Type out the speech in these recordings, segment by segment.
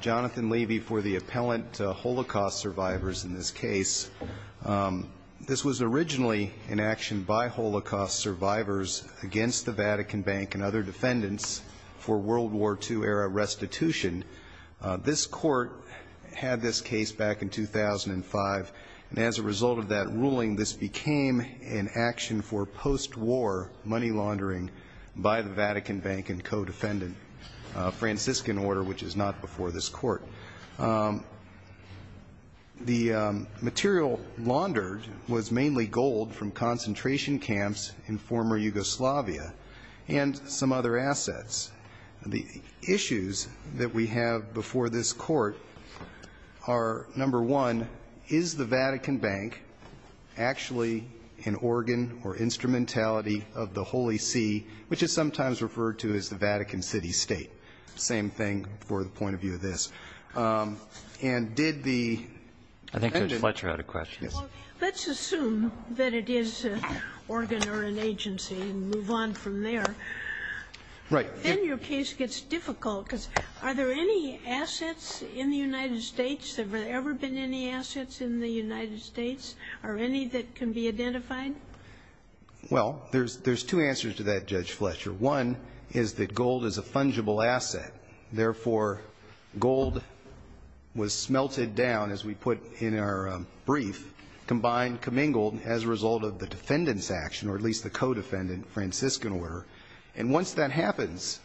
Jonathan Levy for the appellant to Holocaust survivors in this case. This was originally in action by Holocaust survivors against the Vatican Bank and other defendants for World War II era restitution. This court had this case in the past. This court had this case back in 2005 and as a result of that ruling this became an action for post-war money laundering by the Vatican Bank and co-defendant. A Franciscan order which is not before this court. The material laundered was mainly gold from concentration camps in former Yugoslavia and some other assets. The issues that we have before this court are, number one, is the Vatican Bank actually an organ or instrumentality of the Holy See, which is sometimes referred to as the Vatican City State? Same thing for the point of view of this. And did the end of the question, let's assume that it is an organ or an agency and move on from there. Then your case gets difficult because are there any assets in the United States? Have there ever been any assets in the United States? Are any that can be identified? Well, there's two answers to that, Judge Fletcher. One is that gold is a fungible asset. Therefore, gold was smelted down as we put in our brief, combined, commingled as a result of the defendants action or at least the co-defendant Franciscan order. And once that happens,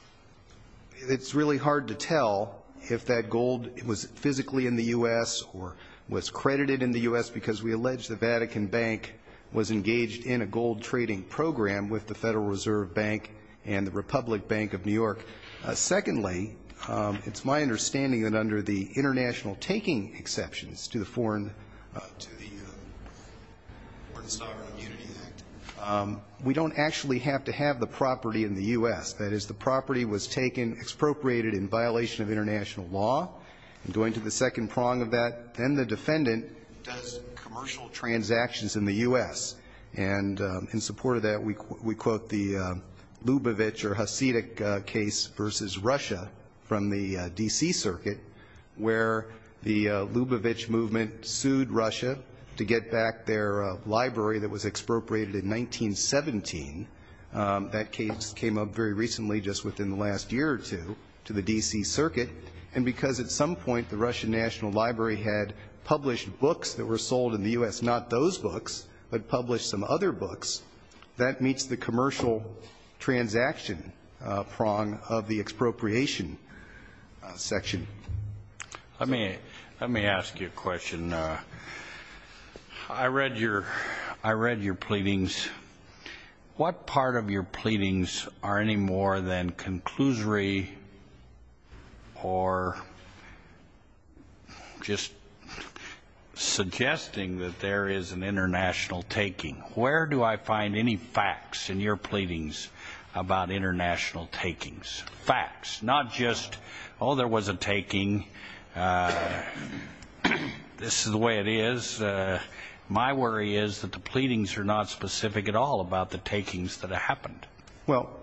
it's really hard to tell if that gold was physically in the U.S. or was credited in the U.S. because we allege the Vatican Bank was engaged in a gold trading program with the Federal Reserve Bank and the Republic Bank of New York. Secondly, it's my understanding that under the international taking exceptions to the Foreign Sovereign Immunity Act, we don't actually have to have the property in the U.S. That is, the property was taken, expropriated in violation of international law. I'm going to the second prong of that. Then the defendant does commercial transactions in the U.S. And in support of that, we quote the Lubavitch or Hasidic case versus Russia from the D.C. circuit where the Lubavitch movement sued Russia to get back their library that was expropriated in 1917. That case came up in the U.S. It came up very recently, just within the last year or two, to the D.C. circuit. And because at some point the Russian National Library had published books that were sold in the U.S., not those books, but published some other books, that meets the commercial transaction prong of the expropriation section. Let me ask you a question. I read your pleadings. What part of your pleadings are in the U.S. and what part of your pleadings are in the U.S. I'm not looking for any more than conclusory or just suggesting that there is an international taking. Where do I find any facts in your pleadings about international takings? Facts. Not just, oh, there was a taking, this is the way it is. My worry is that the pleadings are not specific at all about the takings that happened. Well,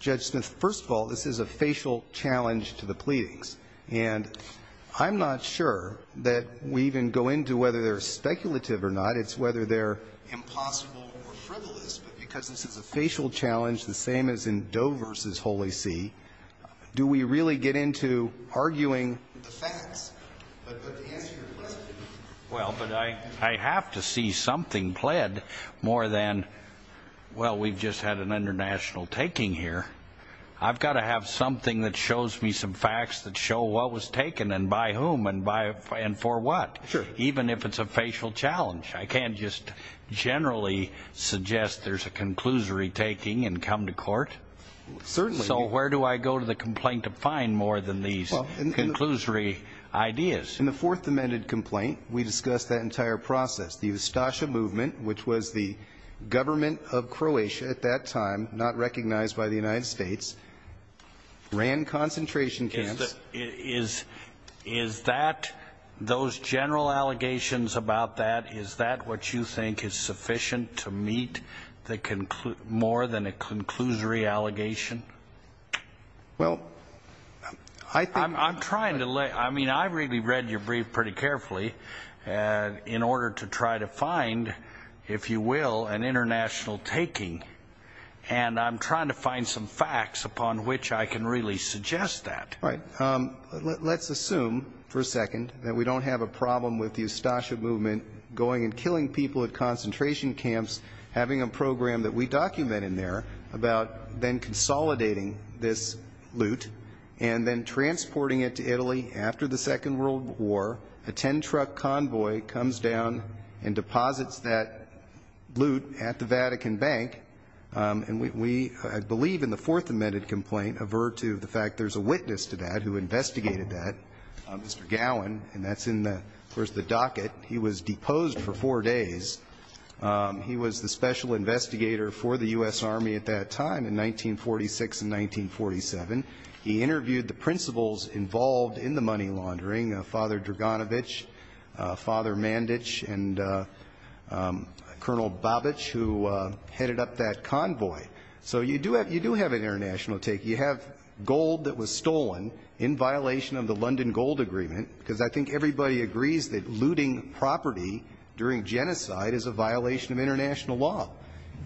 Judge Smith, first of all, this is a facial challenge to the pleadings. And I'm not sure that we even go into whether they're speculative or not. It's whether they're impossible or frivolous. But because this is a facial challenge, the same as in Doe v. Holy See, do we really get into arguing the facts? But to answer your question. Well, but I have to see something pled more than, well, we've just had an international taking here. I've got to have something that shows me some facts that show what was taken and by whom and for what. Even if it's a facial challenge. I can't just generally suggest there's a conclusory taking and come to court. So where do I go to the complaint to find more than these conclusory ideas? In the Fourth Amendment complaint, we discussed that entire process. The Ustasha movement, which was the government of Croatia at that time, not recognized by the United States, ran concentration camps. Is that, those general allegations about that, is that what you think is sufficient to meet more than a conclusory allegation? Well, I think. I'm trying to lay, I mean, I really read your brief pretty carefully in order to try to find, if you will, an international taking. And I'm trying to find some facts upon which I can really suggest that. All right. Let's assume for a second that we don't have a problem with the Ustasha movement going and killing people at concentration camps, having a program that we document in there about then consolidating this loot and then transporting it to Italy after the Second World War. A ten-truck convoy comes down and deposits that loot at the Vatican Bank. And we, I believe in the Fourth Amendment complaint, avert to the fact there's a witness to that who investigated that, Mr. Gowin. And that's in the, of course, the docket. He was deposed for four days. He was the special investigator for the U.S. Army at that time in 1946 and 1947. He interviewed the principals involved in the money laundering, Father Draganovich, Father Mandich, and Colonel Babich, who headed up that convoy. So you do have an international take. You have gold that was stolen in violation of the London Gold Agreement, because I think everybody agrees that looting property during genocide is a violation of international law.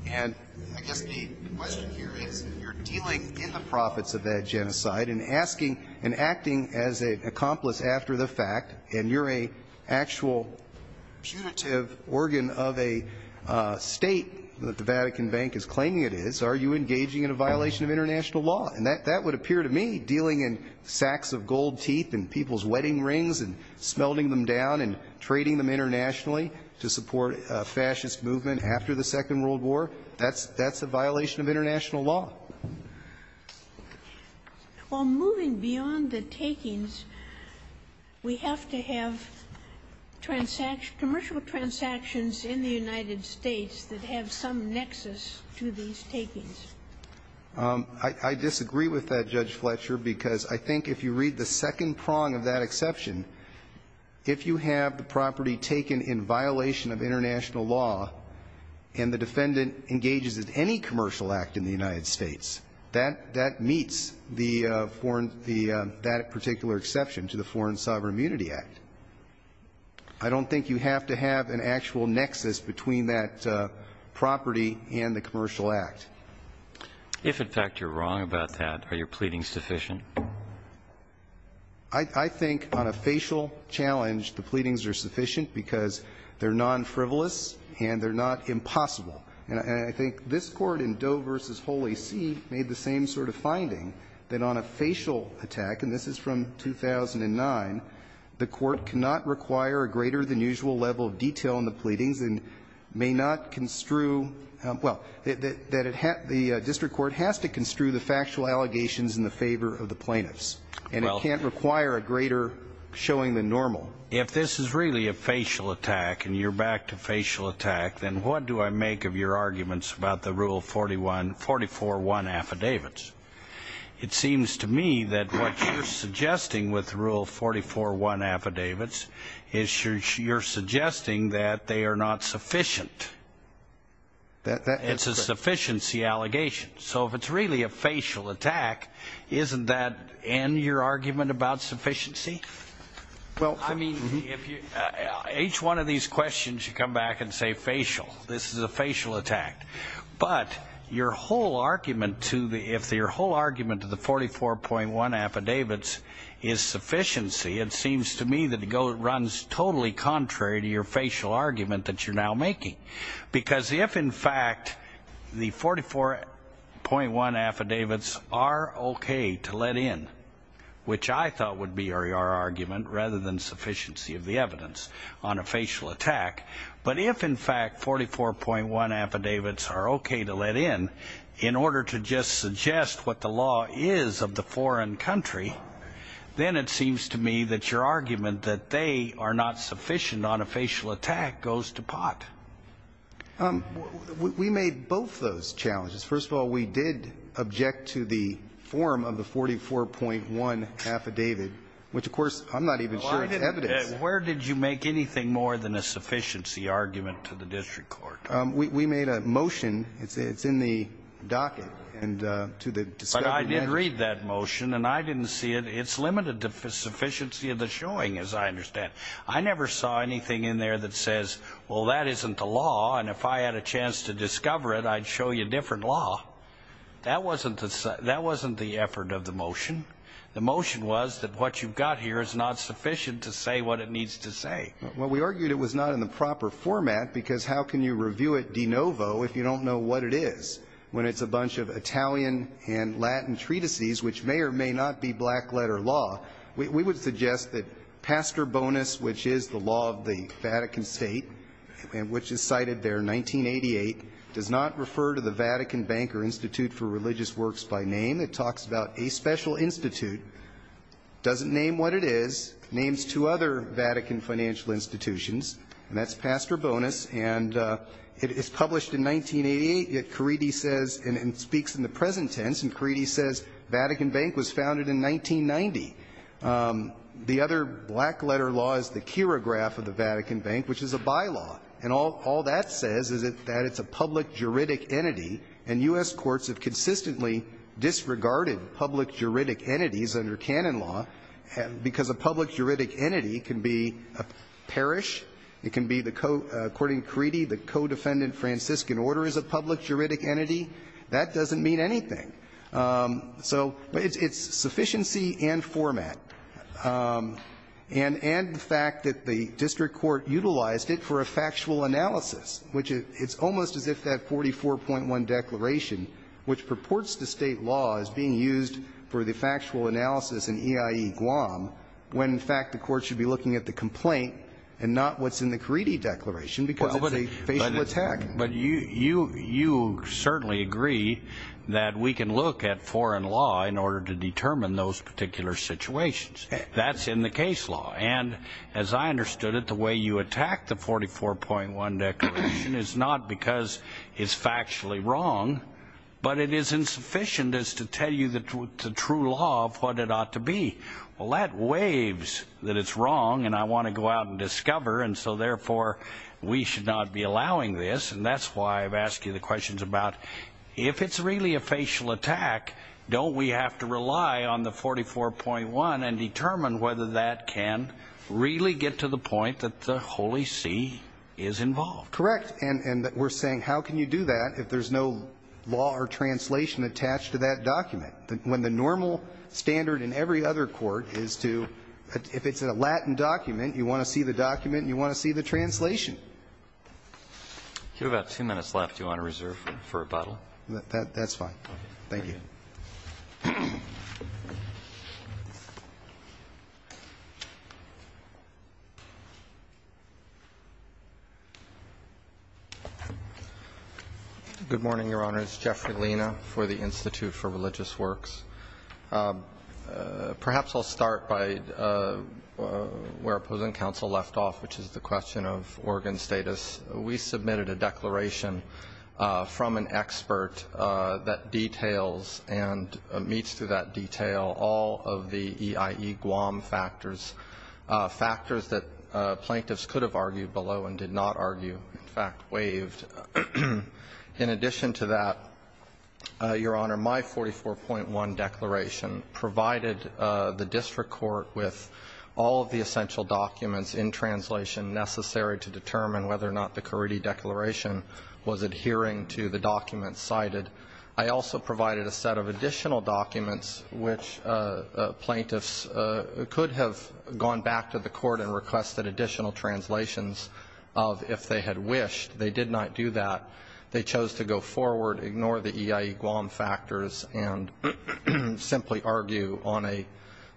And I guess the question here is, if you're dealing in the profits of that genocide and asking and acting as an accomplice after the fact, and you're an actual punitive organ of a state that the Vatican Bank is claiming it is, are you engaging in a violation of international law? And that would appear to me, dealing in sacks of gold teeth and people's wedding rings and smelting them down and trading them internationally to support a fascist movement after the Second World War, that's a violation of international law. Well, moving beyond the takings, we have to have commercial transactions in the United States that have some nexus to these takings. I disagree with that, Judge Fletcher, because I think if you read the second prong of that exception, if you have the property taken in violation of international law and the defendant engages in any commercial act in the United States, that meets the foreign – that particular exception to the Foreign Sovereign Immunity Act. I don't think you have to have an actual nexus between that property and the commercial act. If, in fact, you're wrong about that, are your pleadings sufficient? I think on a facial challenge, the pleadings are sufficient because they're non-frivolous and they're not impossible. And I think this Court in Doe v. Holy See made the same sort of finding, that on a facial attack, and this is from 2009, the Court cannot require a greater-than-usual level of detail in the pleadings and may not construe – well, that it – the district court has to construe the factual allegations in the favor of the plaintiffs. And it can't require a greater showing than normal. So if this is really a facial attack and you're back to facial attack, then what do I make of your arguments about the Rule 41 – 44-1 affidavits? It seems to me that what you're suggesting with Rule 44-1 affidavits is you're suggesting that they are not sufficient. It's a sufficiency allegation. So if it's really a facial attack, isn't that in your argument about sufficiency? Well, I mean, if you – each one of these questions, you come back and say facial. This is a facial attack. But your whole argument to the – if your whole argument to the 44-1 affidavits is sufficiency, it seems to me that it runs totally contrary to your facial argument that you're now making. Because if, in fact, the 44-1 affidavits are okay to let in, which I thought would be your argument rather than sufficiency of the evidence on a facial attack, but if, in fact, 44-1 affidavits are okay to let in in order to just suggest what the law is of the foreign country, then it seems to me that your argument that they are not sufficient on a facial attack goes to pot. We made both those challenges. First of all, we did object to the form of the 44-1 affidavit, which, of course, I'm not even sure is evidence. Where did you make anything more than a sufficiency argument to the district court? We made a motion. It's in the docket. But I did read that motion, and I didn't see it. It's limited to sufficiency of the showing, as I understand. I never saw anything in there that says, well, that isn't the law, and if I had a chance to discover it, I'd show you a different law. That wasn't the effort of the motion. The motion was that what you've got here is not sufficient to say what it needs to say. Well, we argued it was not in the proper format because how can you review it de novo if you don't know what it is, when it's a bunch of Italian and Latin treatises, which may or may not be black-letter law? We would suggest that pastor bonus, which is the law of the Vatican State and which is cited there in 1988, does not refer to the Vatican Bank or Institute for Religious Works by name. It talks about a special institute, doesn't name what it is, names two other Vatican financial institutions, and that's pastor bonus. And it's published in 1988, yet Caridi says, and it speaks in the present tense, and Caridi says Vatican Bank was founded in 1990. The other black-letter law is the Kirograph of the Vatican Bank, which is a bylaw. And all that says is that it's a public juridic entity, and U.S. courts have consistently disregarded public juridic entities under canon law, because a public juridic entity can be a parish, it can be, according to Caridi, the co-defendant Franciscan order is a public juridic entity. That doesn't mean anything. So it's sufficiency and format. And the fact that the district court utilized it for a factual analysis, which it's almost as if that 44.1 declaration, which purports to state law, is being used for the factual analysis in EIE Guam, when in fact the court should be looking at the complaint and not what's in the Caridi declaration, because it's a facial attack. But you certainly agree that we can look at foreign law in order to determine those particular situations. That's in the case law. And as I understood it, the way you attack the 44.1 declaration is not because it's factually wrong, but it is insufficient as to tell you the true law of what it ought to be. Well, that waives that it's wrong, and I want to go out and discover. And so, therefore, we should not be allowing this. And that's why I've asked you the questions about if it's really a facial attack, don't we have to rely on the 44.1 and determine whether that can really get to the point that the Holy See is involved? Correct. And we're saying how can you do that if there's no law or translation attached to that document? When the normal standard in every other court is to, if it's a Latin document, you want to see the document and you want to see the translation. You have about two minutes left. Do you want to reserve for rebuttal? That's fine. Thank you. Good morning, Your Honors. Jeffrey Lina for the Institute for Religious Works. Perhaps I'll start by where opposing counsel left off, which is the question of organ status. We submitted a declaration from an expert that details and meets to that detail all of the EIE Guam factors, factors that plaintiffs could have argued below and did not argue, in fact, waived. In addition to that, Your Honor, my 44.1 declaration provided the district court with all of the essential documents in translation necessary to determine whether or not the Caridi Declaration was adhering to the documents cited. I also provided a set of additional documents which plaintiffs could have gone back to the court and requested additional translations of if they had wished. They did not do that. They chose to go forward, ignore the EIE Guam factors, and simply argue on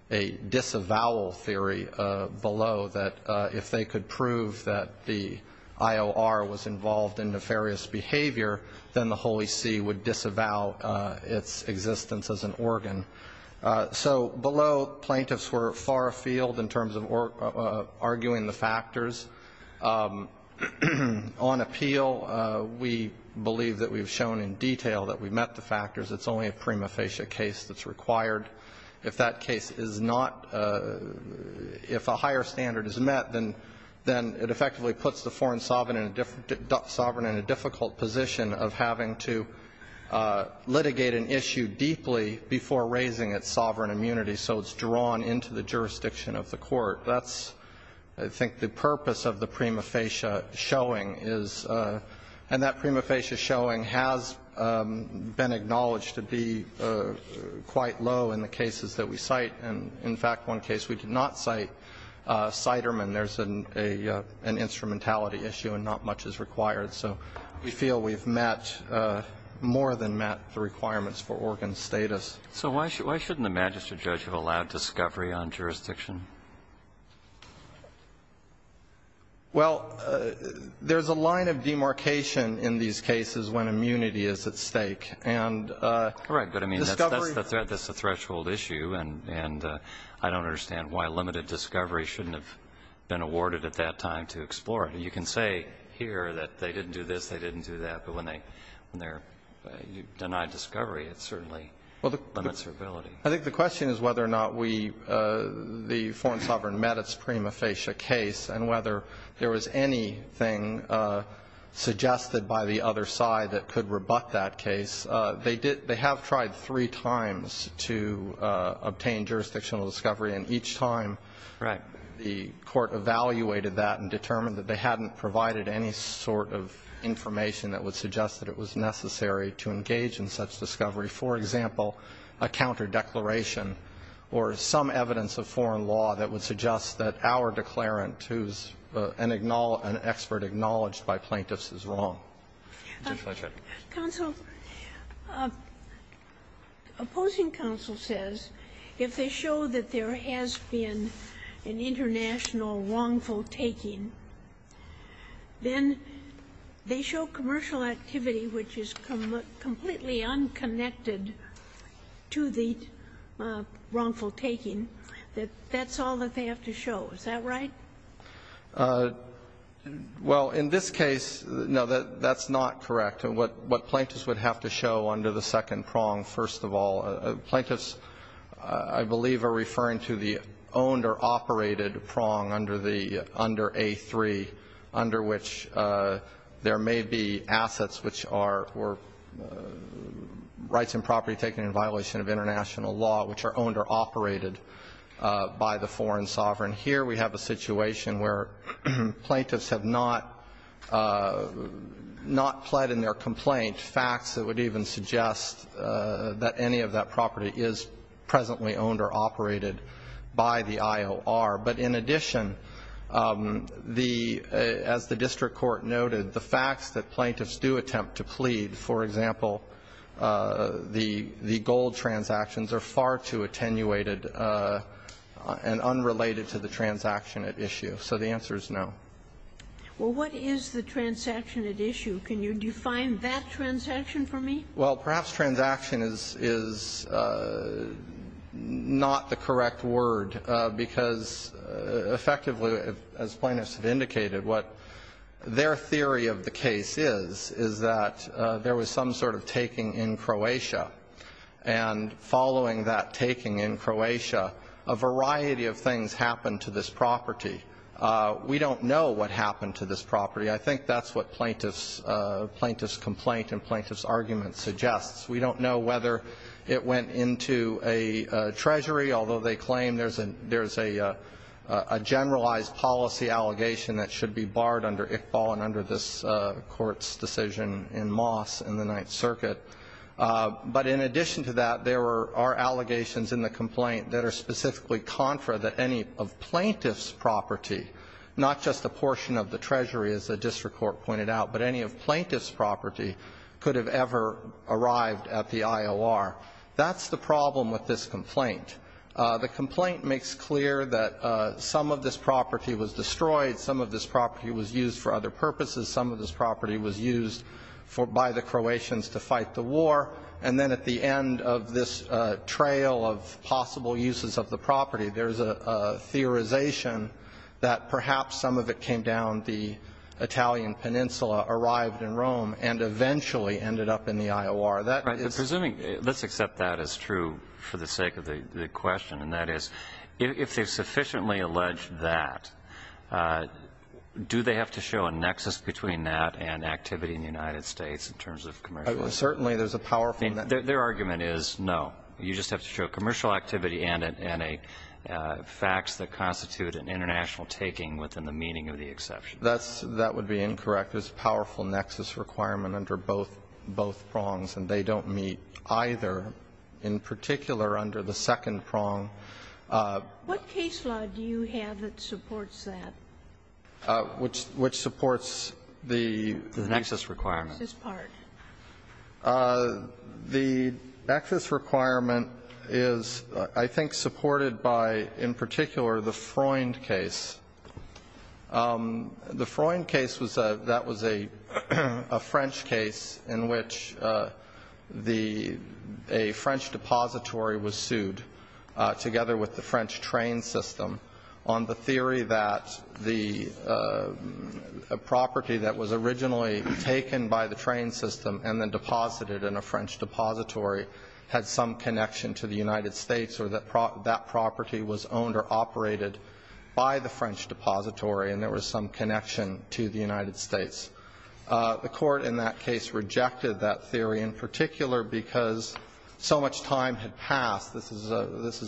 a disavowal theory below that if they could prove that the IOR was involved in nefarious behavior, then the Holy See would disavow its existence as an organ. So below, plaintiffs were far afield in terms of arguing the factors. On appeal, we believe that we've shown in detail that we met the factors. It's only a prima facie case that's required. If that case is not, if a higher standard is met, then it effectively puts the foreign sovereign in a difficult position of having to litigate an issue deeply before raising its sovereign immunity so it's drawn into the jurisdiction of the court. That's, I think, the purpose of the prima facie showing is, and that prima facie showing has been acknowledged to be quite low in the cases that we cite. And in fact, one case we did not cite, Siderman, there's an instrumentality issue and not much is required. So we feel we've met, more than met, the requirements for organ status. So why shouldn't the magistrate judge have allowed discovery on jurisdiction? Well, there's a line of demarcation in these cases when immunity is at stake, and discovery Correct, but I mean, that's a threshold issue, and I don't understand why limited discovery shouldn't have been awarded at that time to explore it. You can say here that they didn't do this, they didn't do that, but when they're denied discovery, it certainly limits their ability. I think the question is whether or not we, the foreign sovereign, met its prima facie case and whether there was anything suggested by the other side that could rebut that case. They have tried three times to obtain jurisdictional discovery, and each time the court evaluated that and determined that they hadn't provided any sort of information that would suggest that it was necessary to engage in such discovery. For example, a counter declaration or some evidence of foreign law that would suggest that our declarant, who's an expert acknowledged by plaintiffs, is wrong. Counsel, opposing counsel says if they show that there has been an international wrongful taking, then they show commercial activity which is completely unconnected to the wrongful taking, that that's all that they have to show. Is that right? Well, in this case, no, that's not correct. What plaintiffs would have to show under the second prong, first of all, plaintiffs, I believe, are referring to the owned or operated prong under the under A3, under which there may be assets which are rights and property taken in violation of international law, which are owned or operated by the foreign sovereign. Here we have a situation where plaintiffs have not pled in their complaint, facts that would even suggest that any of that property is presently owned or operated by the IOR. But in addition, the as the district court noted, the facts that plaintiffs do attempt to plead, for example, the gold transactions are far too attenuated and unrelated to the transaction at issue. So the answer is no. Well, what is the transaction at issue? Can you define that transaction for me? Well, perhaps transaction is not the correct word because effectively, as plaintiffs have indicated, what their theory of the case is, is that there was some sort of taking in Croatia. And following that taking in Croatia, a variety of things happened to this property. I think that's what plaintiff's complaint and plaintiff's argument suggests. We don't know whether it went into a treasury, although they claim there's a generalized policy allegation that should be barred under Iqbal and under this court's decision in Moss in the Ninth Circuit. But in addition to that, there are allegations in the complaint that are specifically contra that any of plaintiff's property, not just a portion of the treasury, as the district court pointed out, but any of plaintiff's property could have ever arrived at the IOR. That's the problem with this complaint. The complaint makes clear that some of this property was destroyed, some of this property was used for other purposes, some of this property was used by the Croatians to fight the war, and then at the end of this trail of possible uses of the property, there's a theorization that perhaps some of it came down the Italian Peninsula, arrived in Rome, and eventually ended up in the IOR. That is the problem. Right. But presuming let's accept that as true for the sake of the question, and that is if they've sufficiently alleged that, do they have to show a nexus between that and activity in the United States in terms of commercial activity? Certainly there's a powerful nexus. Their argument is no. You just have to show commercial activity and a facts that constitute an international taking within the meaning of the exception. That would be incorrect. There's a powerful nexus requirement under both prongs, and they don't meet either. In particular, under the second prong. What case law do you have that supports that? Which supports the nexus requirement. The nexus part. The nexus requirement is, I think, supported by, in particular, the Freund case. The Freund case was a French case in which a French depository was sued, together with the French train system, on the theory that the property that was originally taken by the train system and then deposited in a French depository had some connection to the United States or that that property was owned or operated by the French depository and there was some connection to the United States. The court in that case rejected that theory, in particular because so much time had passed. This is,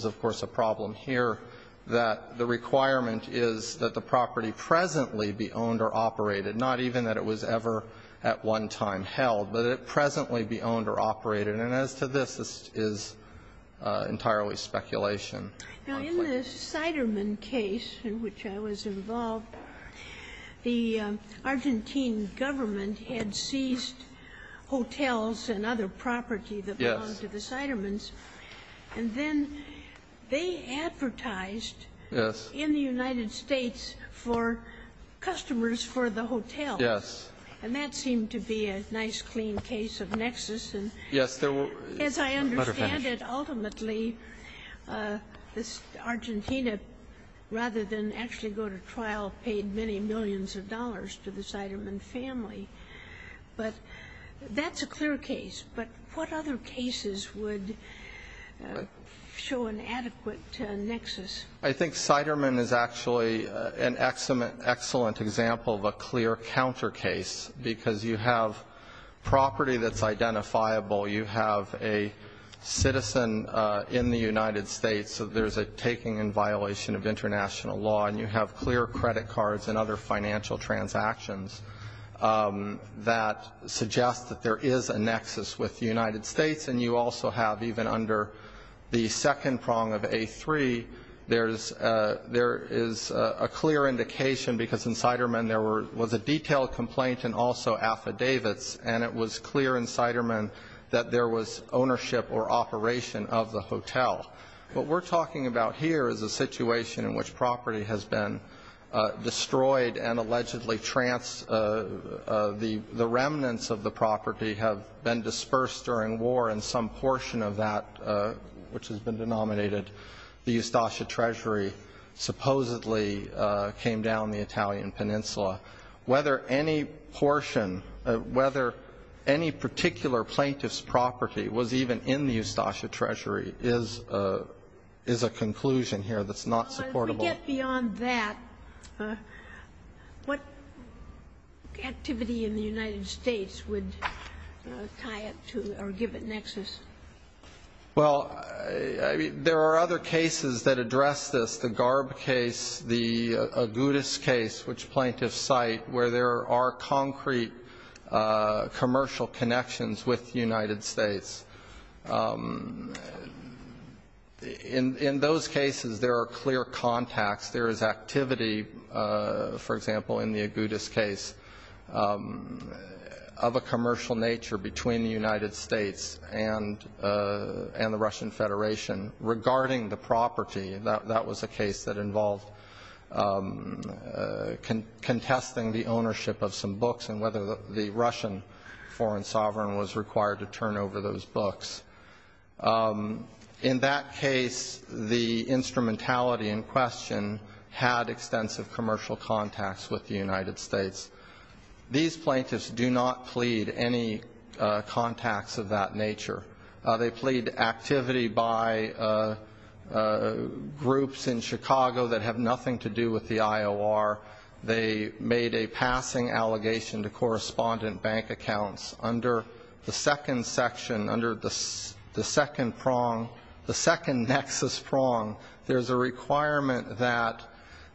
of course, a problem here that the requirement is that the property presently be owned or operated, not even that it was ever at one time held, but it presently be owned or operated. And as to this, this is entirely speculation. Now, in the Siderman case in which I was involved, the Argentine government had seized hotels and other property that belonged to the Sidermans. And then they advertised in the United States for customers for the hotels. Yes. And that seemed to be a nice, clean case of nexus. Yes. As I understand it, ultimately, this Argentina, rather than actually go to trial, paid many millions of dollars to the Siderman family. But that's a clear case. But what other cases would show an adequate nexus? I think Siderman is actually an excellent example of a clear counter case, because you have property that's identifiable, you have a citizen in the United States that there's a taking in violation of international law, and you have clear credit cards and other financial transactions that suggest that there is a nexus with the United States. And you also have, even under the second prong of A3, there is a clear indication, because in Siderman there was a detailed complaint and also affidavits, and it was clear in Siderman that there was ownership or operation of the hotel. What we're talking about here is a situation in which property has been destroyed and allegedly the remnants of the property have been dispersed during war and some portion of that, which has been denominated, the Ustasha treasury supposedly came down the Italian peninsula. Whether any portion, whether any particular plaintiff's property was even in the Ustasha treasury is a conclusion here that's not supportable. If we get beyond that, what activity in the United States would tie it to or give it nexus? Well, there are other cases that address this, the Garb case, the Agudas case, which plaintiffs cite, where there are concrete commercial connections with the United States. In those cases, there are clear contacts. There is activity, for example, in the Agudas case, of a commercial nature between the United States and the Russian Federation regarding the property. That was a case that involved contesting the ownership of some books and whether the Russian foreign sovereign was required to turn over those books. In that case, the instrumentality in question had extensive commercial contacts with the United States. These plaintiffs do not plead any contacts of that nature. They plead activity by groups in Chicago that have nothing to do with the IOR. They made a passing allegation to correspondent bank accounts. Under the second section, under the second prong, the second nexus prong, there's a requirement that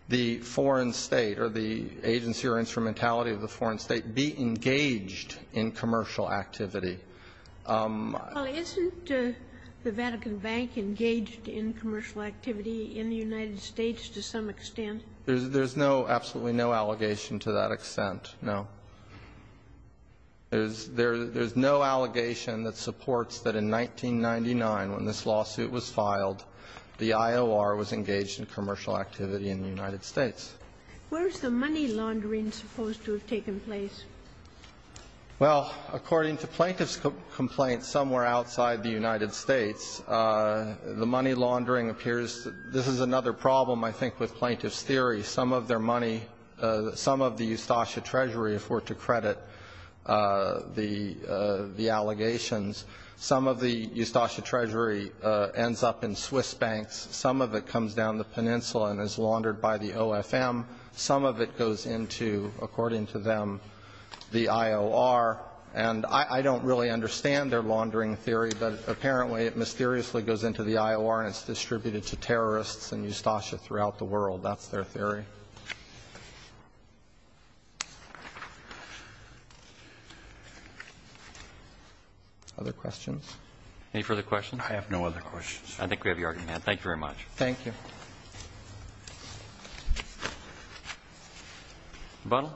the foreign state or the agency or instrumentality of the foreign state be engaged in commercial activity. Well, isn't the Vatican Bank engaged in commercial activity in the United States to some extent? There's no, absolutely no allegation to that extent, no. There's no allegation that supports that in 1999, when this lawsuit was filed, the IOR was engaged in commercial activity in the United States. Where is the money laundering supposed to have taken place? Well, according to plaintiffs' complaints somewhere outside the United States, the money laundering appears, this is another problem, I think, with plaintiffs' theory. Some of their money, some of the Ustasha Treasury, if we're to credit the allegations, some of the Ustasha Treasury ends up in Swiss banks. Some of it comes down the peninsula and is laundered by the OFM. Some of it goes into, according to them, the IOR. And I don't really understand their laundering theory, but apparently it mysteriously goes into the IOR and it's distributed to terrorists and Ustasha throughout the world. That's their theory. Other questions? Any further questions? I have no other questions. I think we have your argument. Thank you very much. Thank you. Rebuttal?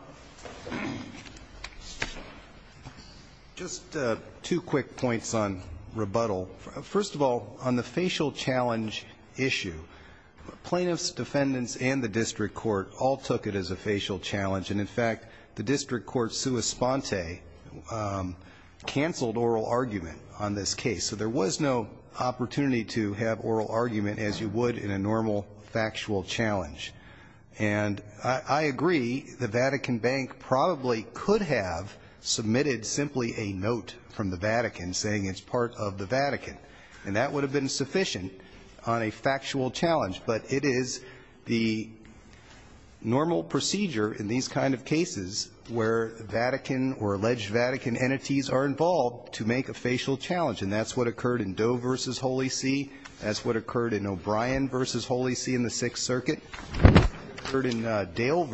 Just two quick points on rebuttal. First of all, on the facial challenge issue, plaintiffs, defendants, and the district court all took it as a facial challenge. And, in fact, the district court sua sponte canceled oral argument on this case. So there was no opportunity to have oral argument as you would in a normal factual challenge. And I agree the Vatican Bank probably could have submitted simply a note from the Vatican saying it's part of the Vatican. And that would have been sufficient on a factual challenge. But it is the normal procedure in these kind of cases where Vatican or alleged Vatican entities are involved to make a facial challenge. And that's what occurred in Doe v. Holy See. That's what occurred in O'Brien v. Holy See in the Sixth Circuit. It occurred in Dale v.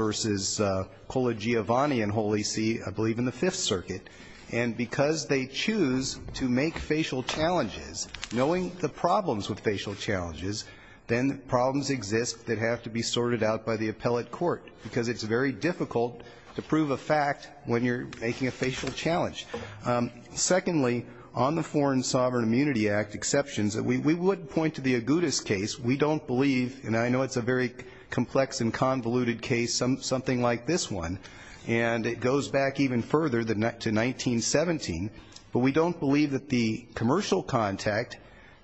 Colagiovanni in Holy See, I believe in the Fifth Circuit. And because they choose to make facial challenges, knowing the problems with facial challenges, then problems exist that have to be sorted out by the appellate court because it's very difficult to prove a fact when you're making a facial challenge. Secondly, on the Foreign Sovereign Immunity Act exceptions, we would point to the Agudas case. We don't believe, and I know it's a very complex and convoluted case, something like this one. And it goes back even further to 1917. But we don't believe that the commercial contact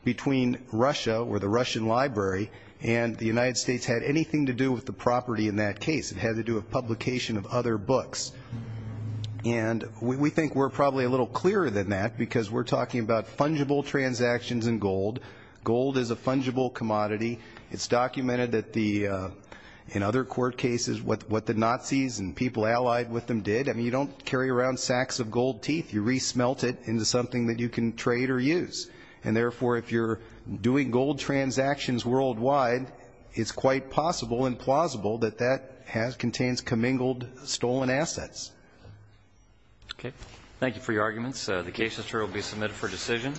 between Russia or the Russian Library and the United States had anything to do with the property in that case. It had to do with publication of other books. And we think we're probably a little clearer than that because we're talking about fungible transactions in gold. Gold is a fungible commodity. It's documented in other court cases what the Nazis and people allied with them did. I mean, you don't carry around sacks of gold teeth. You re-smelt it into something that you can trade or use. And therefore, if you're doing gold transactions worldwide, it's quite possible and plausible that that contains commingled stolen assets. Okay. Thank you for your arguments. The case will be submitted for decision.